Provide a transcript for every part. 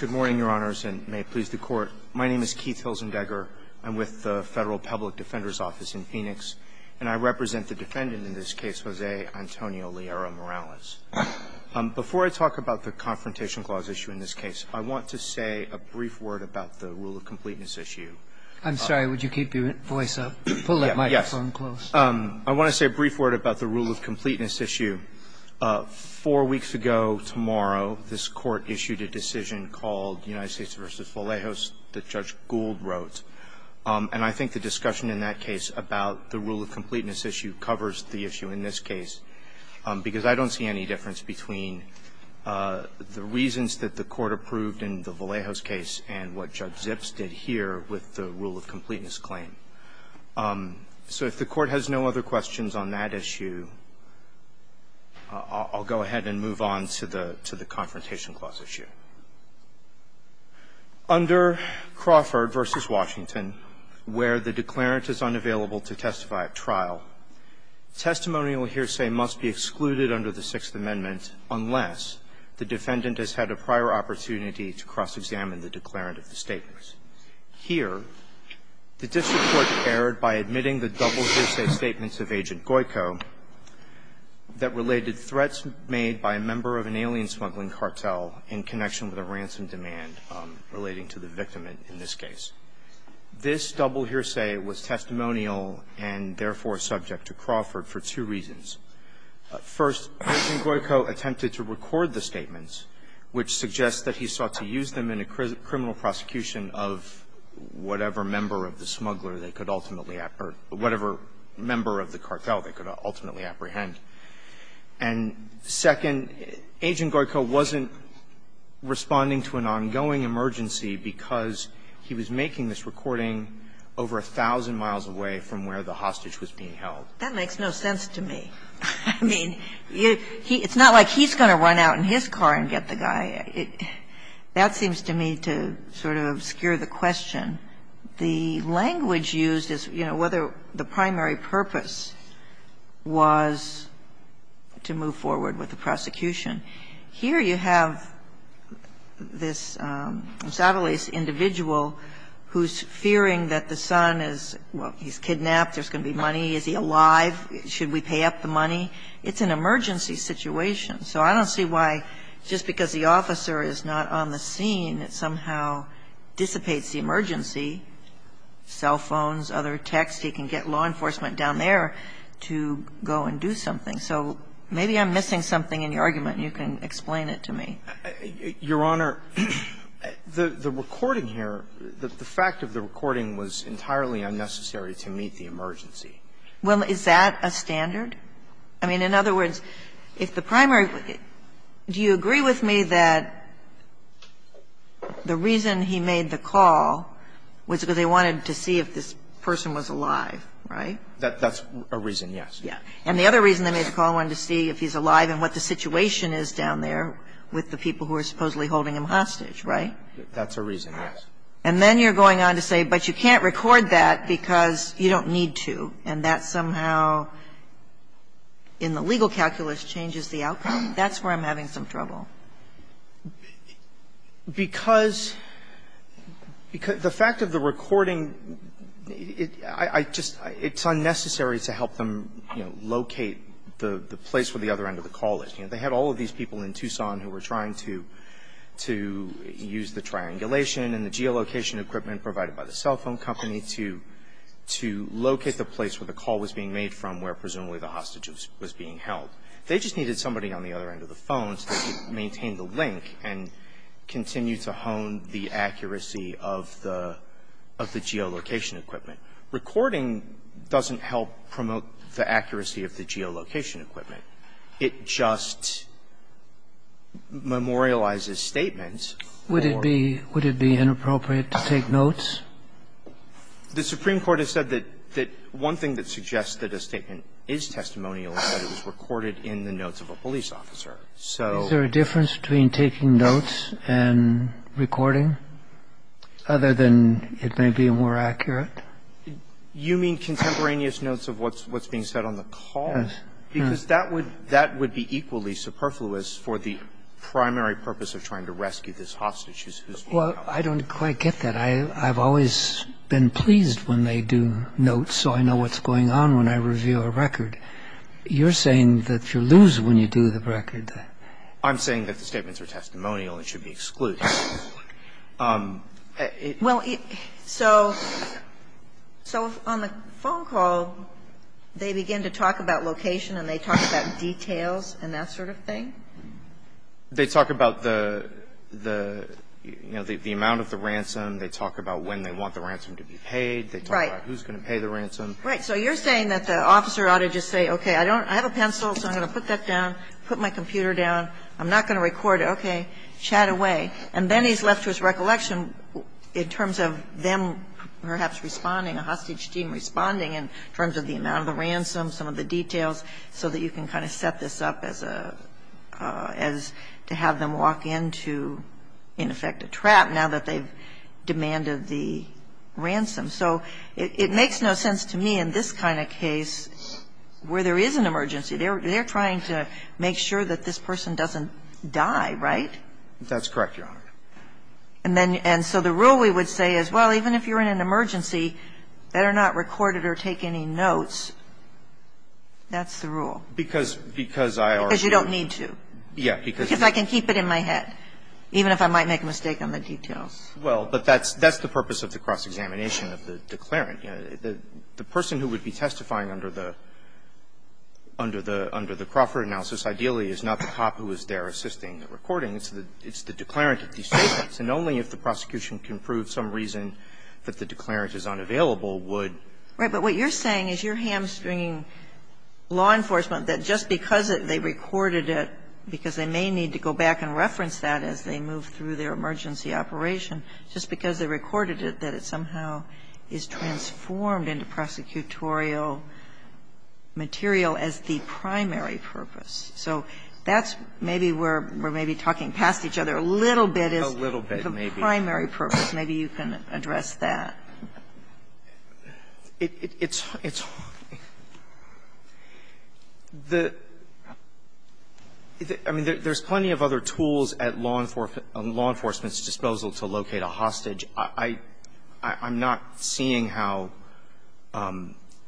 Good morning, Your Honors, and may it please the Court. My name is Keith Hilzendegger. I'm with the Federal Public Defender's Office in Phoenix, and I represent the defendant in this case, Jose Antonio Liera-Morales. Before I talk about the Confrontation Clause issue in this case, I want to say a brief word about the rule of completeness issue. I'm sorry, would you keep your voice up? Pull that microphone close. Yes. I want to say a brief word about the rule of completeness issue. Four weeks ago tomorrow, this Court issued a decision called United States v. Vallejos that Judge Gould wrote, and I think the discussion in that case about the rule of completeness issue covers the issue in this case, because I don't see any difference between the reasons that the Court approved in the Vallejos case and what Judge Zips did here with the rule of completeness claim. So if the Court has no other questions on that issue, I'll go ahead and move on to the Confrontation Clause issue. Under Crawford v. Washington, where the declarant is unavailable to testify at trial, testimonial hearsay must be excluded under the Sixth Amendment unless the defendant has had a prior opportunity to cross-examine the declarant of the statements. Here, the district court erred by admitting the double hearsay statements of Agent Goyko that related threats made by a member of an alien-smuggling cartel in connection with a ransom demand relating to the victim in this case. This double hearsay was testimonial and, therefore, subject to Crawford for two reasons. First, Agent Goyko attempted to record the statements, which suggests that he sought to use them in a criminal prosecution of whatever member of the smuggler they could ultimately or whatever member of the cartel they could ultimately apprehend. And, second, Agent Goyko wasn't responding to an ongoing emergency because he was making this recording over 1,000 miles away from where the hostage was being held. That makes no sense to me. I mean, it's not like he's going to run out in his car and get the guy. That seems to me to sort of obscure the question. The language used is, you know, whether the primary purpose was to move forward with the prosecution. Here you have this sadly individual who's fearing that the son is, well, he's kidnapped, there's going to be money, is he alive, should we pay up the money? It's an emergency situation. So I don't see why, just because the officer is not on the scene, it somehow dissipates the emergency, cell phones, other texts. He can get law enforcement down there to go and do something. So maybe I'm missing something in your argument, and you can explain it to me. Your Honor, the recording here, the fact of the recording was entirely unnecessary to meet the emergency. Well, is that a standard? I mean, in other words, if the primary do you agree with me that the reason he made the call was because they wanted to see if this person was alive, right? That's a reason, yes. And the other reason they made the call, wanted to see if he's alive and what the situation is down there with the people who are supposedly holding him hostage, right? That's a reason, yes. And then you're going on to say, but you can't record that because you don't need to. And that somehow, in the legal calculus, changes the outcome. That's where I'm having some trouble. Because the fact of the recording, I just – it's unnecessary to help them, you know, locate the place where the other end of the call is. You know, they had all of these people in Tucson who were trying to use the triangulation and the geolocation equipment provided by the cell phone company to locate the place where the call was being made from where presumably the hostage was being held. They just needed somebody on the other end of the phone so they could maintain the link and continue to hone the accuracy of the geolocation equipment. Recording doesn't help promote the accuracy of the geolocation equipment. It just memorializes statements. Would it be – would it be inappropriate to take notes? The Supreme Court has said that one thing that suggests that a statement is testimonial is that it was recorded in the notes of a police officer. So – Is there a difference between taking notes and recording, other than it may be more accurate? You mean contemporaneous notes of what's being said on the call? Yes. Because that would be equally superfluous for the primary purpose of trying to rescue this hostage who's being held. Well, I don't quite get that. I've always been pleased when they do notes, so I know what's going on when I review a record. You're saying that you lose when you do the record. I'm saying that the statements are testimonial and should be excluded. Well, so on the phone call, they begin to talk about location and they talk about details and that sort of thing? They talk about the – the, you know, the amount of the ransom. They talk about when they want the ransom to be paid. Right. They talk about who's going to pay the ransom. Right. So you're saying that the officer ought to just say, okay, I don't – I have a pencil, so I'm going to put that down, put my computer down. I'm not going to record it. Okay. Chat away. And then he's left to his recollection in terms of them perhaps responding, a hostage team responding in terms of the amount of the ransom, some of the details, so that you can kind of set this up as a – as to have them walk into, in effect, a trap now that they've demanded the ransom. So it makes no sense to me in this kind of case where there is an emergency. They're trying to make sure that this person doesn't die, right? That's correct, Your Honor. And then – and so the rule we would say is, well, even if you're in an emergency, better not record it or take any notes. That's the rule. Because – because I are. Because you don't need to. Yeah. Because I can keep it in my head, even if I might make a mistake on the details. Well, but that's – that's the purpose of the cross-examination of the declarant. The person who would be testifying under the – under the Crawford analysis ideally is not the cop who is there assisting the recording. It's the declarant at the statements. And only if the prosecution can prove some reason that the declarant is unavailable would – Right. But what you're saying is you're hamstringing law enforcement that just because they recorded it, because they may need to go back and reference that as they move through their emergency operation, just because they recorded it, that it somehow is transformed into prosecutorial material as the primary purpose. So that's maybe where we're maybe talking past each other a little bit as – The primary purpose. Maybe you can address that. It's – it's – the – I mean, there's plenty of other tools at law enforcement – at law enforcement's disposal to locate a hostage. I'm not seeing how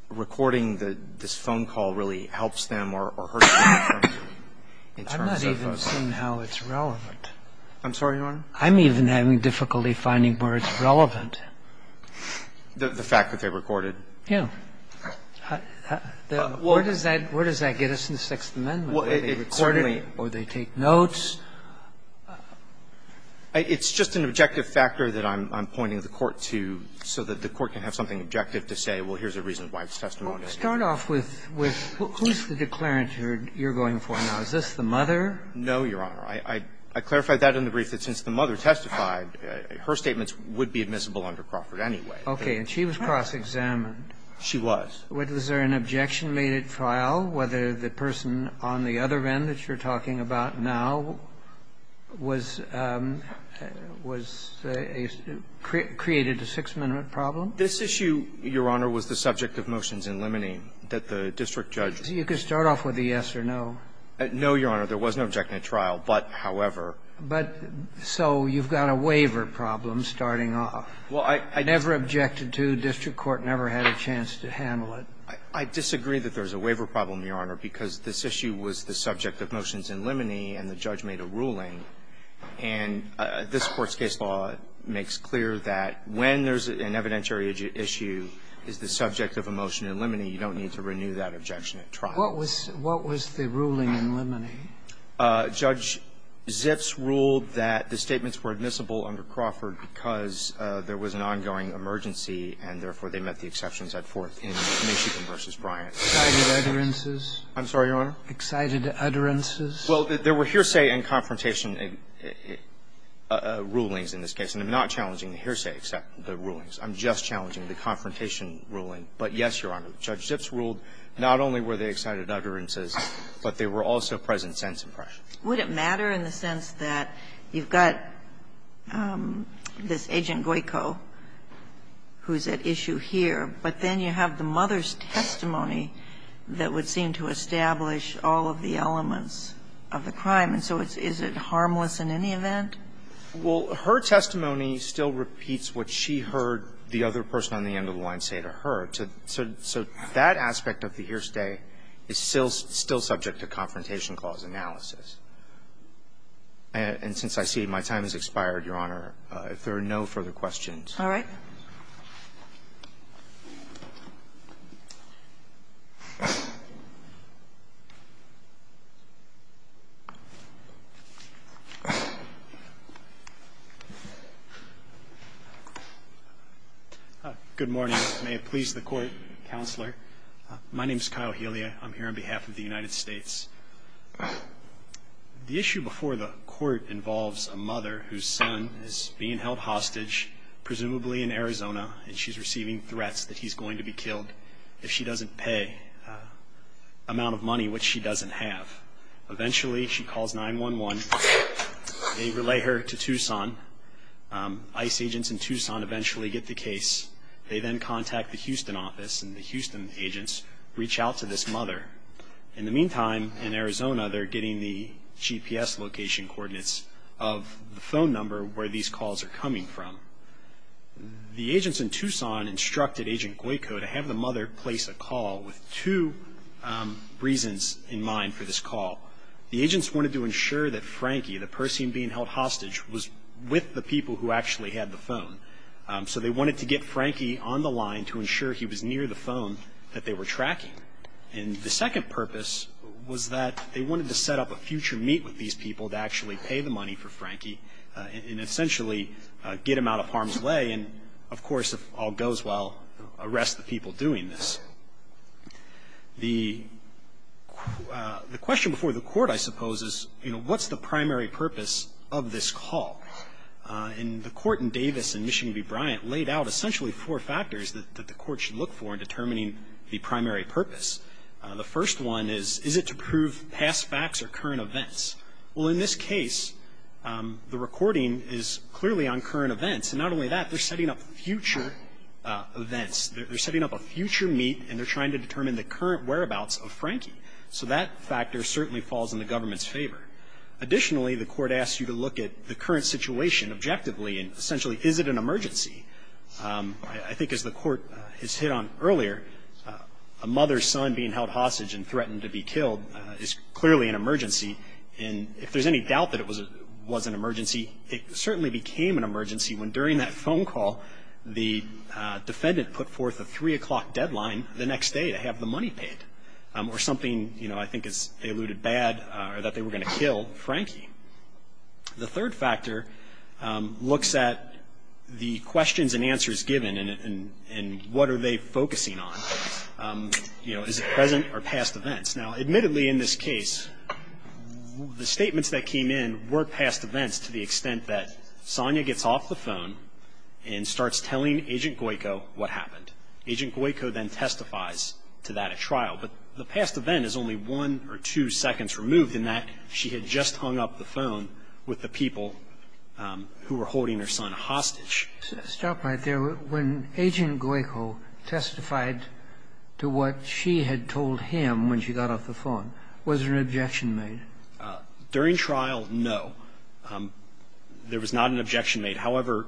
recording this phone call really helps them or hurts them in terms of the phone call. I'm not even seeing how it's relevant. I'm sorry, Your Honor? I'm even having difficulty finding where it's relevant. The fact that they recorded. Yeah. Where does that – where does that get us in the Sixth Amendment, where they recorded or they take notes? It's just an objective factor that I'm pointing the Court to, so that the Court can have something objective to say, well, here's a reason why it's testimony. Start off with who's the declarant you're going for now. Is this the mother? No, Your Honor. I clarified that in the brief, that since the mother testified, her statements would be admissible under Crawford anyway. Okay. And she was cross-examined. She was. Was there an objection made at trial, whether the person on the other end that you're talking about now was – was – created a Sixth Amendment problem? This issue, Your Honor, was the subject of motions in Limonene that the district judge – You could start off with a yes or no. No, Your Honor. There was no objection at trial. But, however – But so you've got a waiver problem starting off. Well, I – I – Never objected to. District court never had a chance to handle it. I disagree that there's a waiver problem, Your Honor, because this issue was the subject of motions in Limonene, and the judge made a ruling. And this Court's case law makes clear that when there's an evidentiary issue is the subject of a motion in Limonene, you don't need to renew that objection at trial. What was – what was the ruling in Limonene? Judge Zips ruled that the statements were admissible under Crawford because there was an ongoing emergency and, therefore, they met the exceptions at fourth in Michigan v. Bryant. Excited utterances? I'm sorry, Your Honor? Excited utterances? Well, there were hearsay and confrontation rulings in this case. And I'm not challenging the hearsay except the rulings. I'm just challenging the confrontation ruling. But, yes, Your Honor, Judge Zips ruled not only were there excited utterances, but there were also present sense impressions. Would it matter in the sense that you've got this Agent Guico who's at issue here, but then you have the mother's testimony that would seem to establish all of the elements of the crime, and so is it harmless in any event? Well, her testimony still repeats what she heard the other person on the end of the hour. So that aspect of the hearsay is still subject to confrontation clause analysis. And since I see my time has expired, Your Honor, if there are no further questions. All right. Good morning. May it please the Court, Counselor. My name's Kyle Helia. I'm here on behalf of the United States. The issue before the Court involves a mother whose son is being held hostage, presumably in Arizona, and she's receiving threats that he's going to be killed. If she doesn't pay amount of money, which she doesn't have. Eventually, she calls 911. They relay her to Tucson. ICE agents in Tucson eventually get the case. They then contact the Houston office, and the Houston agents reach out to this mother. In the meantime, in Arizona, they're getting the GPS location coordinates of the phone number where these calls are coming from. The agents in Tucson instructed Agent Guico to have the mother place a call with two reasons in mind for this call. The agents wanted to ensure that Frankie, the person being held hostage, was with the people who actually had the phone. So they wanted to get Frankie on the line to ensure he was near the phone that they were tracking. And the second purpose was that they wanted to set up a future meet with these people to actually pay the money for Frankie and essentially get him out of harm's way and, of course, if all goes well, arrest the people doing this. The question before the court, I suppose, is, you know, what's the primary purpose of this call? And the court in Davis in Michigan v. Bryant laid out essentially four factors that the court should look for in determining the primary purpose. The first one is, is it to prove past facts or current events? Well, in this case, the recording is clearly on current events, and not only that, they're setting up future events. They're setting up a future meet, and they're trying to determine the current whereabouts of Frankie. So that factor certainly falls in the government's favor. Additionally, the court asks you to look at the current situation objectively and essentially, is it an emergency? I think as the court has hit on earlier, a mother's son being held hostage and threatened to be killed is clearly an emergency. And if there's any doubt that it was an emergency, it certainly became an emergency when during that phone call, the defendant put forth a 3 o'clock deadline the next day to have the money paid, or something, you know, I think as they alluded, bad or that they were going to kill Frankie. The third factor looks at the questions and answers given and what are they focusing on. You know, is it present or past events? Now, admittedly, in this case, the statements that came in were past events to the extent that Sonia gets off the phone and starts telling Agent Guico what happened. Agent Guico then testifies to that at trial. But the past event is only one or two seconds removed in that she had just hung up the phone with the people who were holding her son hostage. Stop right there. When Agent Guico testified to what she had told him when she got off the phone, was there an objection made? During trial, no. There was not an objection made. However,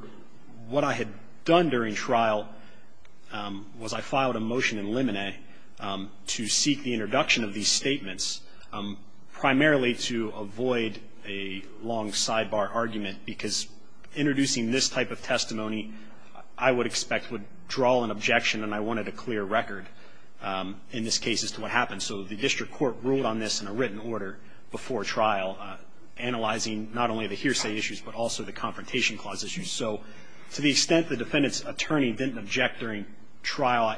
what I had done during trial was I filed a motion in limine to seek the introduction of these statements, primarily to avoid a long sidebar argument, because introducing this type of testimony I would expect would draw an objection and I wanted a clear record in this case as to what happened. So the district court ruled on this in a written order before trial, analyzing not only the hearsay issues but also the confrontation clause issues. So to the extent the defendant's attorney didn't object during trial,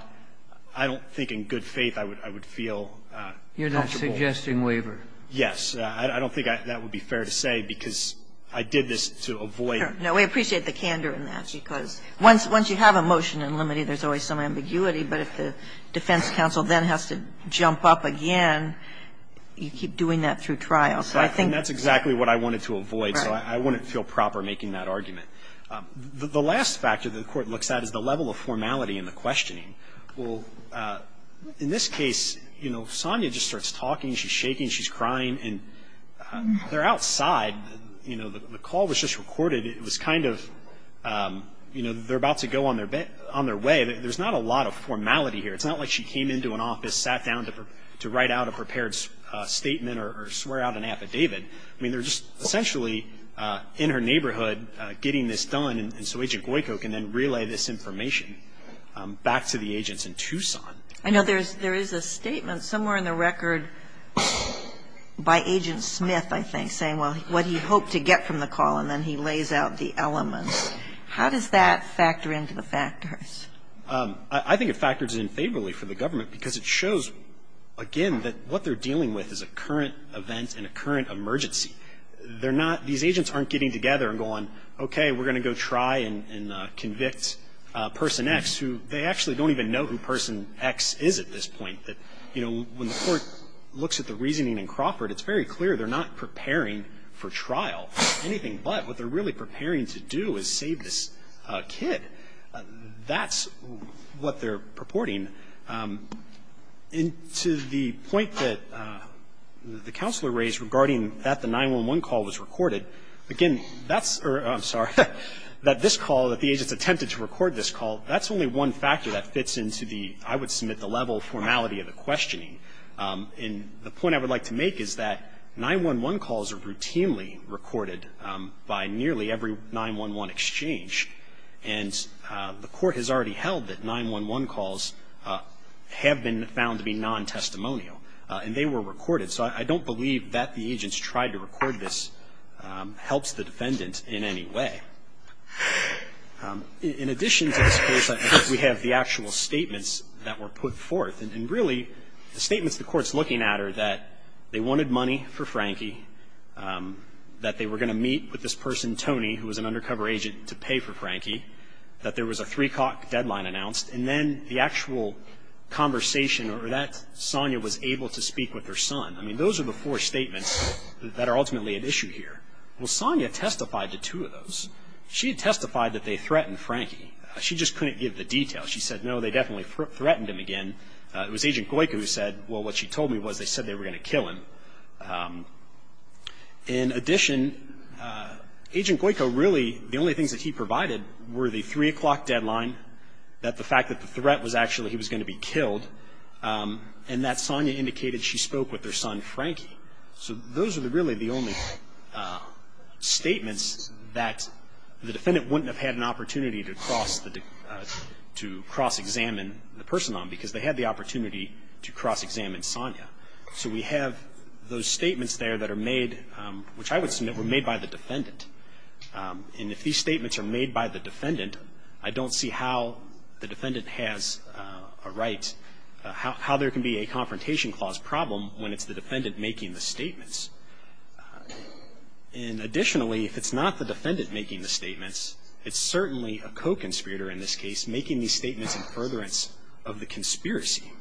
I don't think in good faith I would feel comfortable. You're not suggesting waiver. Yes. I don't think that would be fair to say, because I did this to avoid. No, we appreciate the candor in that, because once you have a motion in limine there's always some ambiguity, but if the defense counsel then has to jump up again, you keep doing that through trial. So I think that's exactly what I wanted to avoid. Right. So I wouldn't feel proper making that argument. The last factor the Court looks at is the level of formality in the questioning. Well, in this case, you know, Sonia just starts talking, she's shaking, she's crying, and they're outside, you know, the call was just recorded. It was kind of, you know, they're about to go on their way. There's not a lot of formality here. It's not like she came into an office, sat down to write out a prepared statement or swear out an affidavit. I mean, they're just essentially in her neighborhood getting this done, and so Agent Goyko can then relay this information back to the agents in Tucson. I know there is a statement somewhere in the record by Agent Smith, I think, saying, well, what he hoped to get from the call, and then he lays out the elements. How does that factor into the factors? I think it factors in favorably for the government because it shows, again, that what they're dealing with is a current event and a current emergency. They're not – these agents aren't getting together and going, okay, we're going to go try and convict Person X, who they actually don't even know who Person X is at this point. You know, when the Court looks at the reasoning in Crawford, it's very clear they're not preparing for trial or anything, but what they're really preparing to do is save this kid. That's what they're purporting. And to the point that the Counselor raised regarding that the 911 call was recorded, again, that's – I'm sorry – that this call, that the agents attempted to record this call, that's only one factor that fits into the, I would submit, the level of formality of the questioning. And the point I would like to make is that 911 calls are routinely recorded by nearly every 911 exchange, and the Court has already held that 911 calls have been found to be non-testimonial, and they were recorded. So I don't believe that the agents tried to record this helps the defendant in any way. In addition to this case, I think we have the actual statements that were put forth. And really, the statements the Court's looking at are that they wanted money for Frankie, that they were going to meet with this person, Tony, who was an undercover agent, to pay for Frankie, that there was a three-cock deadline announced, and then the actual conversation, or that Sonia was able to speak with her son. I mean, those are the four statements that are ultimately at issue here. Well, Sonia testified to two of those. She testified that they threatened Frankie. She just couldn't give the details. She said, no, they definitely threatened him again. It was Agent Goyko who said, well, what she told me was they said they were going to kill him. In addition, Agent Goyko really – the only things that he provided were the three-o'clock deadline, that the fact that the threat was actually he was going to be killed, and that Sonia indicated she spoke with her son, Frankie. So those are really the only statements that the defendant wouldn't have had an opportunity to cross – to cross-examine the person on, because they had the opportunity to cross-examine Sonia. So we have those statements there that are made – which I would submit were made by the defendant. And if these statements are made by the defendant, I don't see how the defendant has a right – how there can be a confrontation clause problem when it's the defendant making the statements. And additionally, if it's not the defendant making the statements, it's certainly a co-conspirator in this case making these statements in furtherance of the conspiracy.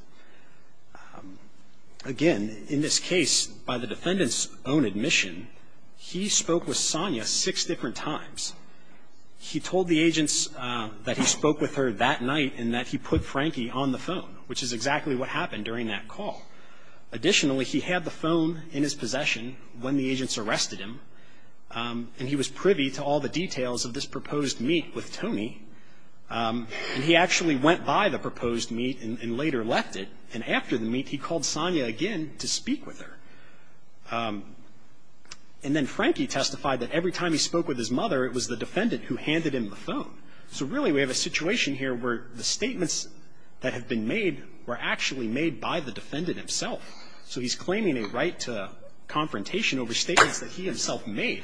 Again, in this case, by the defendant's own admission, he spoke with Sonia six different times. He told the agents that he spoke with her that night and that he put Frankie on the phone, which is exactly what happened during that call. Additionally, he had the phone in his possession when the agents arrested him, and he was privy to all the details of this proposed meet with Tony. And he actually went by the proposed meet and later left it, and after the meet, he called Sonia again to speak with her. And then Frankie testified that every time he spoke with his mother, it was the defendant who handed him the phone. So really, we have a situation here where the statements that have been made were actually made by the defendant himself. So he's claiming a right to confrontation over statements that he himself made.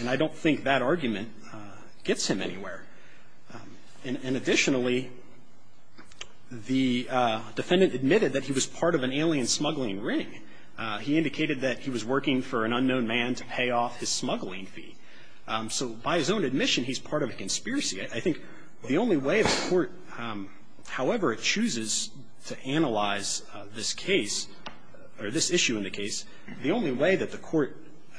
And I don't think that argument gets him anywhere. And additionally, the defendant admitted that he was part of an alien smuggling ring. He indicated that he was working for an unknown man to pay off his smuggling fee. So by his own admission, he's part of a conspiracy. I think the only way the Court, however it chooses to analyze this case or this issue in the case, the only way that the Court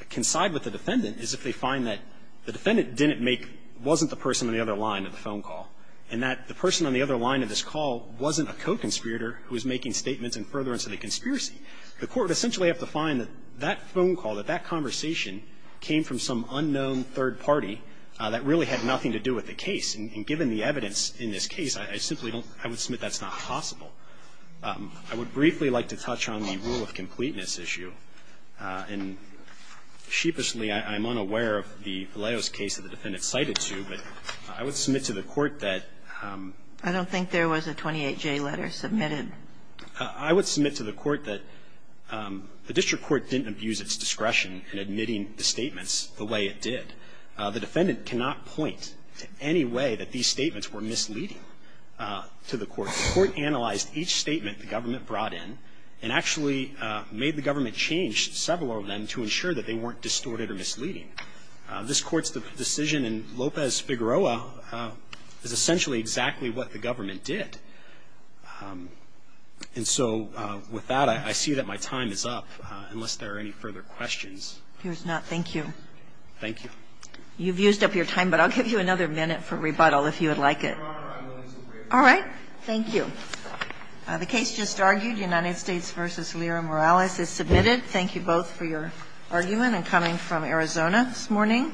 can side with the defendant is if they find that the defendant didn't make, wasn't the person on the other line of the phone call, and that the person on the other line of this call wasn't a co-conspirator who was making statements in furtherance of the conspiracy. The Court would essentially have to find that that phone call, that that conversation came from some unknown third party that really had nothing to do with the case. And given the evidence in this case, I simply don't, I would submit that's not possible. I would briefly like to touch on the rule of completeness issue. And sheepishly, I'm unaware of the Valeos case that the defendant cited to, but I would submit to the Court that the court didn't abuse its discretion in admitting the statements the way it did. I don't think there was a 28-J letter submitted. The defendant cannot point to any way that these statements were misleading to the Court. The Court analyzed each statement the government brought in and actually made the government change several of them to ensure that they weren't distorted or misleading. This Court's decision in Lopez-Figueroa is essentially exactly what the government did. And so with that, I see that my time is up, unless there are any further questions. Here's not. Thank you. Thank you. You've used up your time, but I'll give you another minute for rebuttal if you would like it. All right. Thank you. The case just argued, United States v. Lira Morales, is submitted. Thank you both for your argument. I'm coming from Arizona this morning.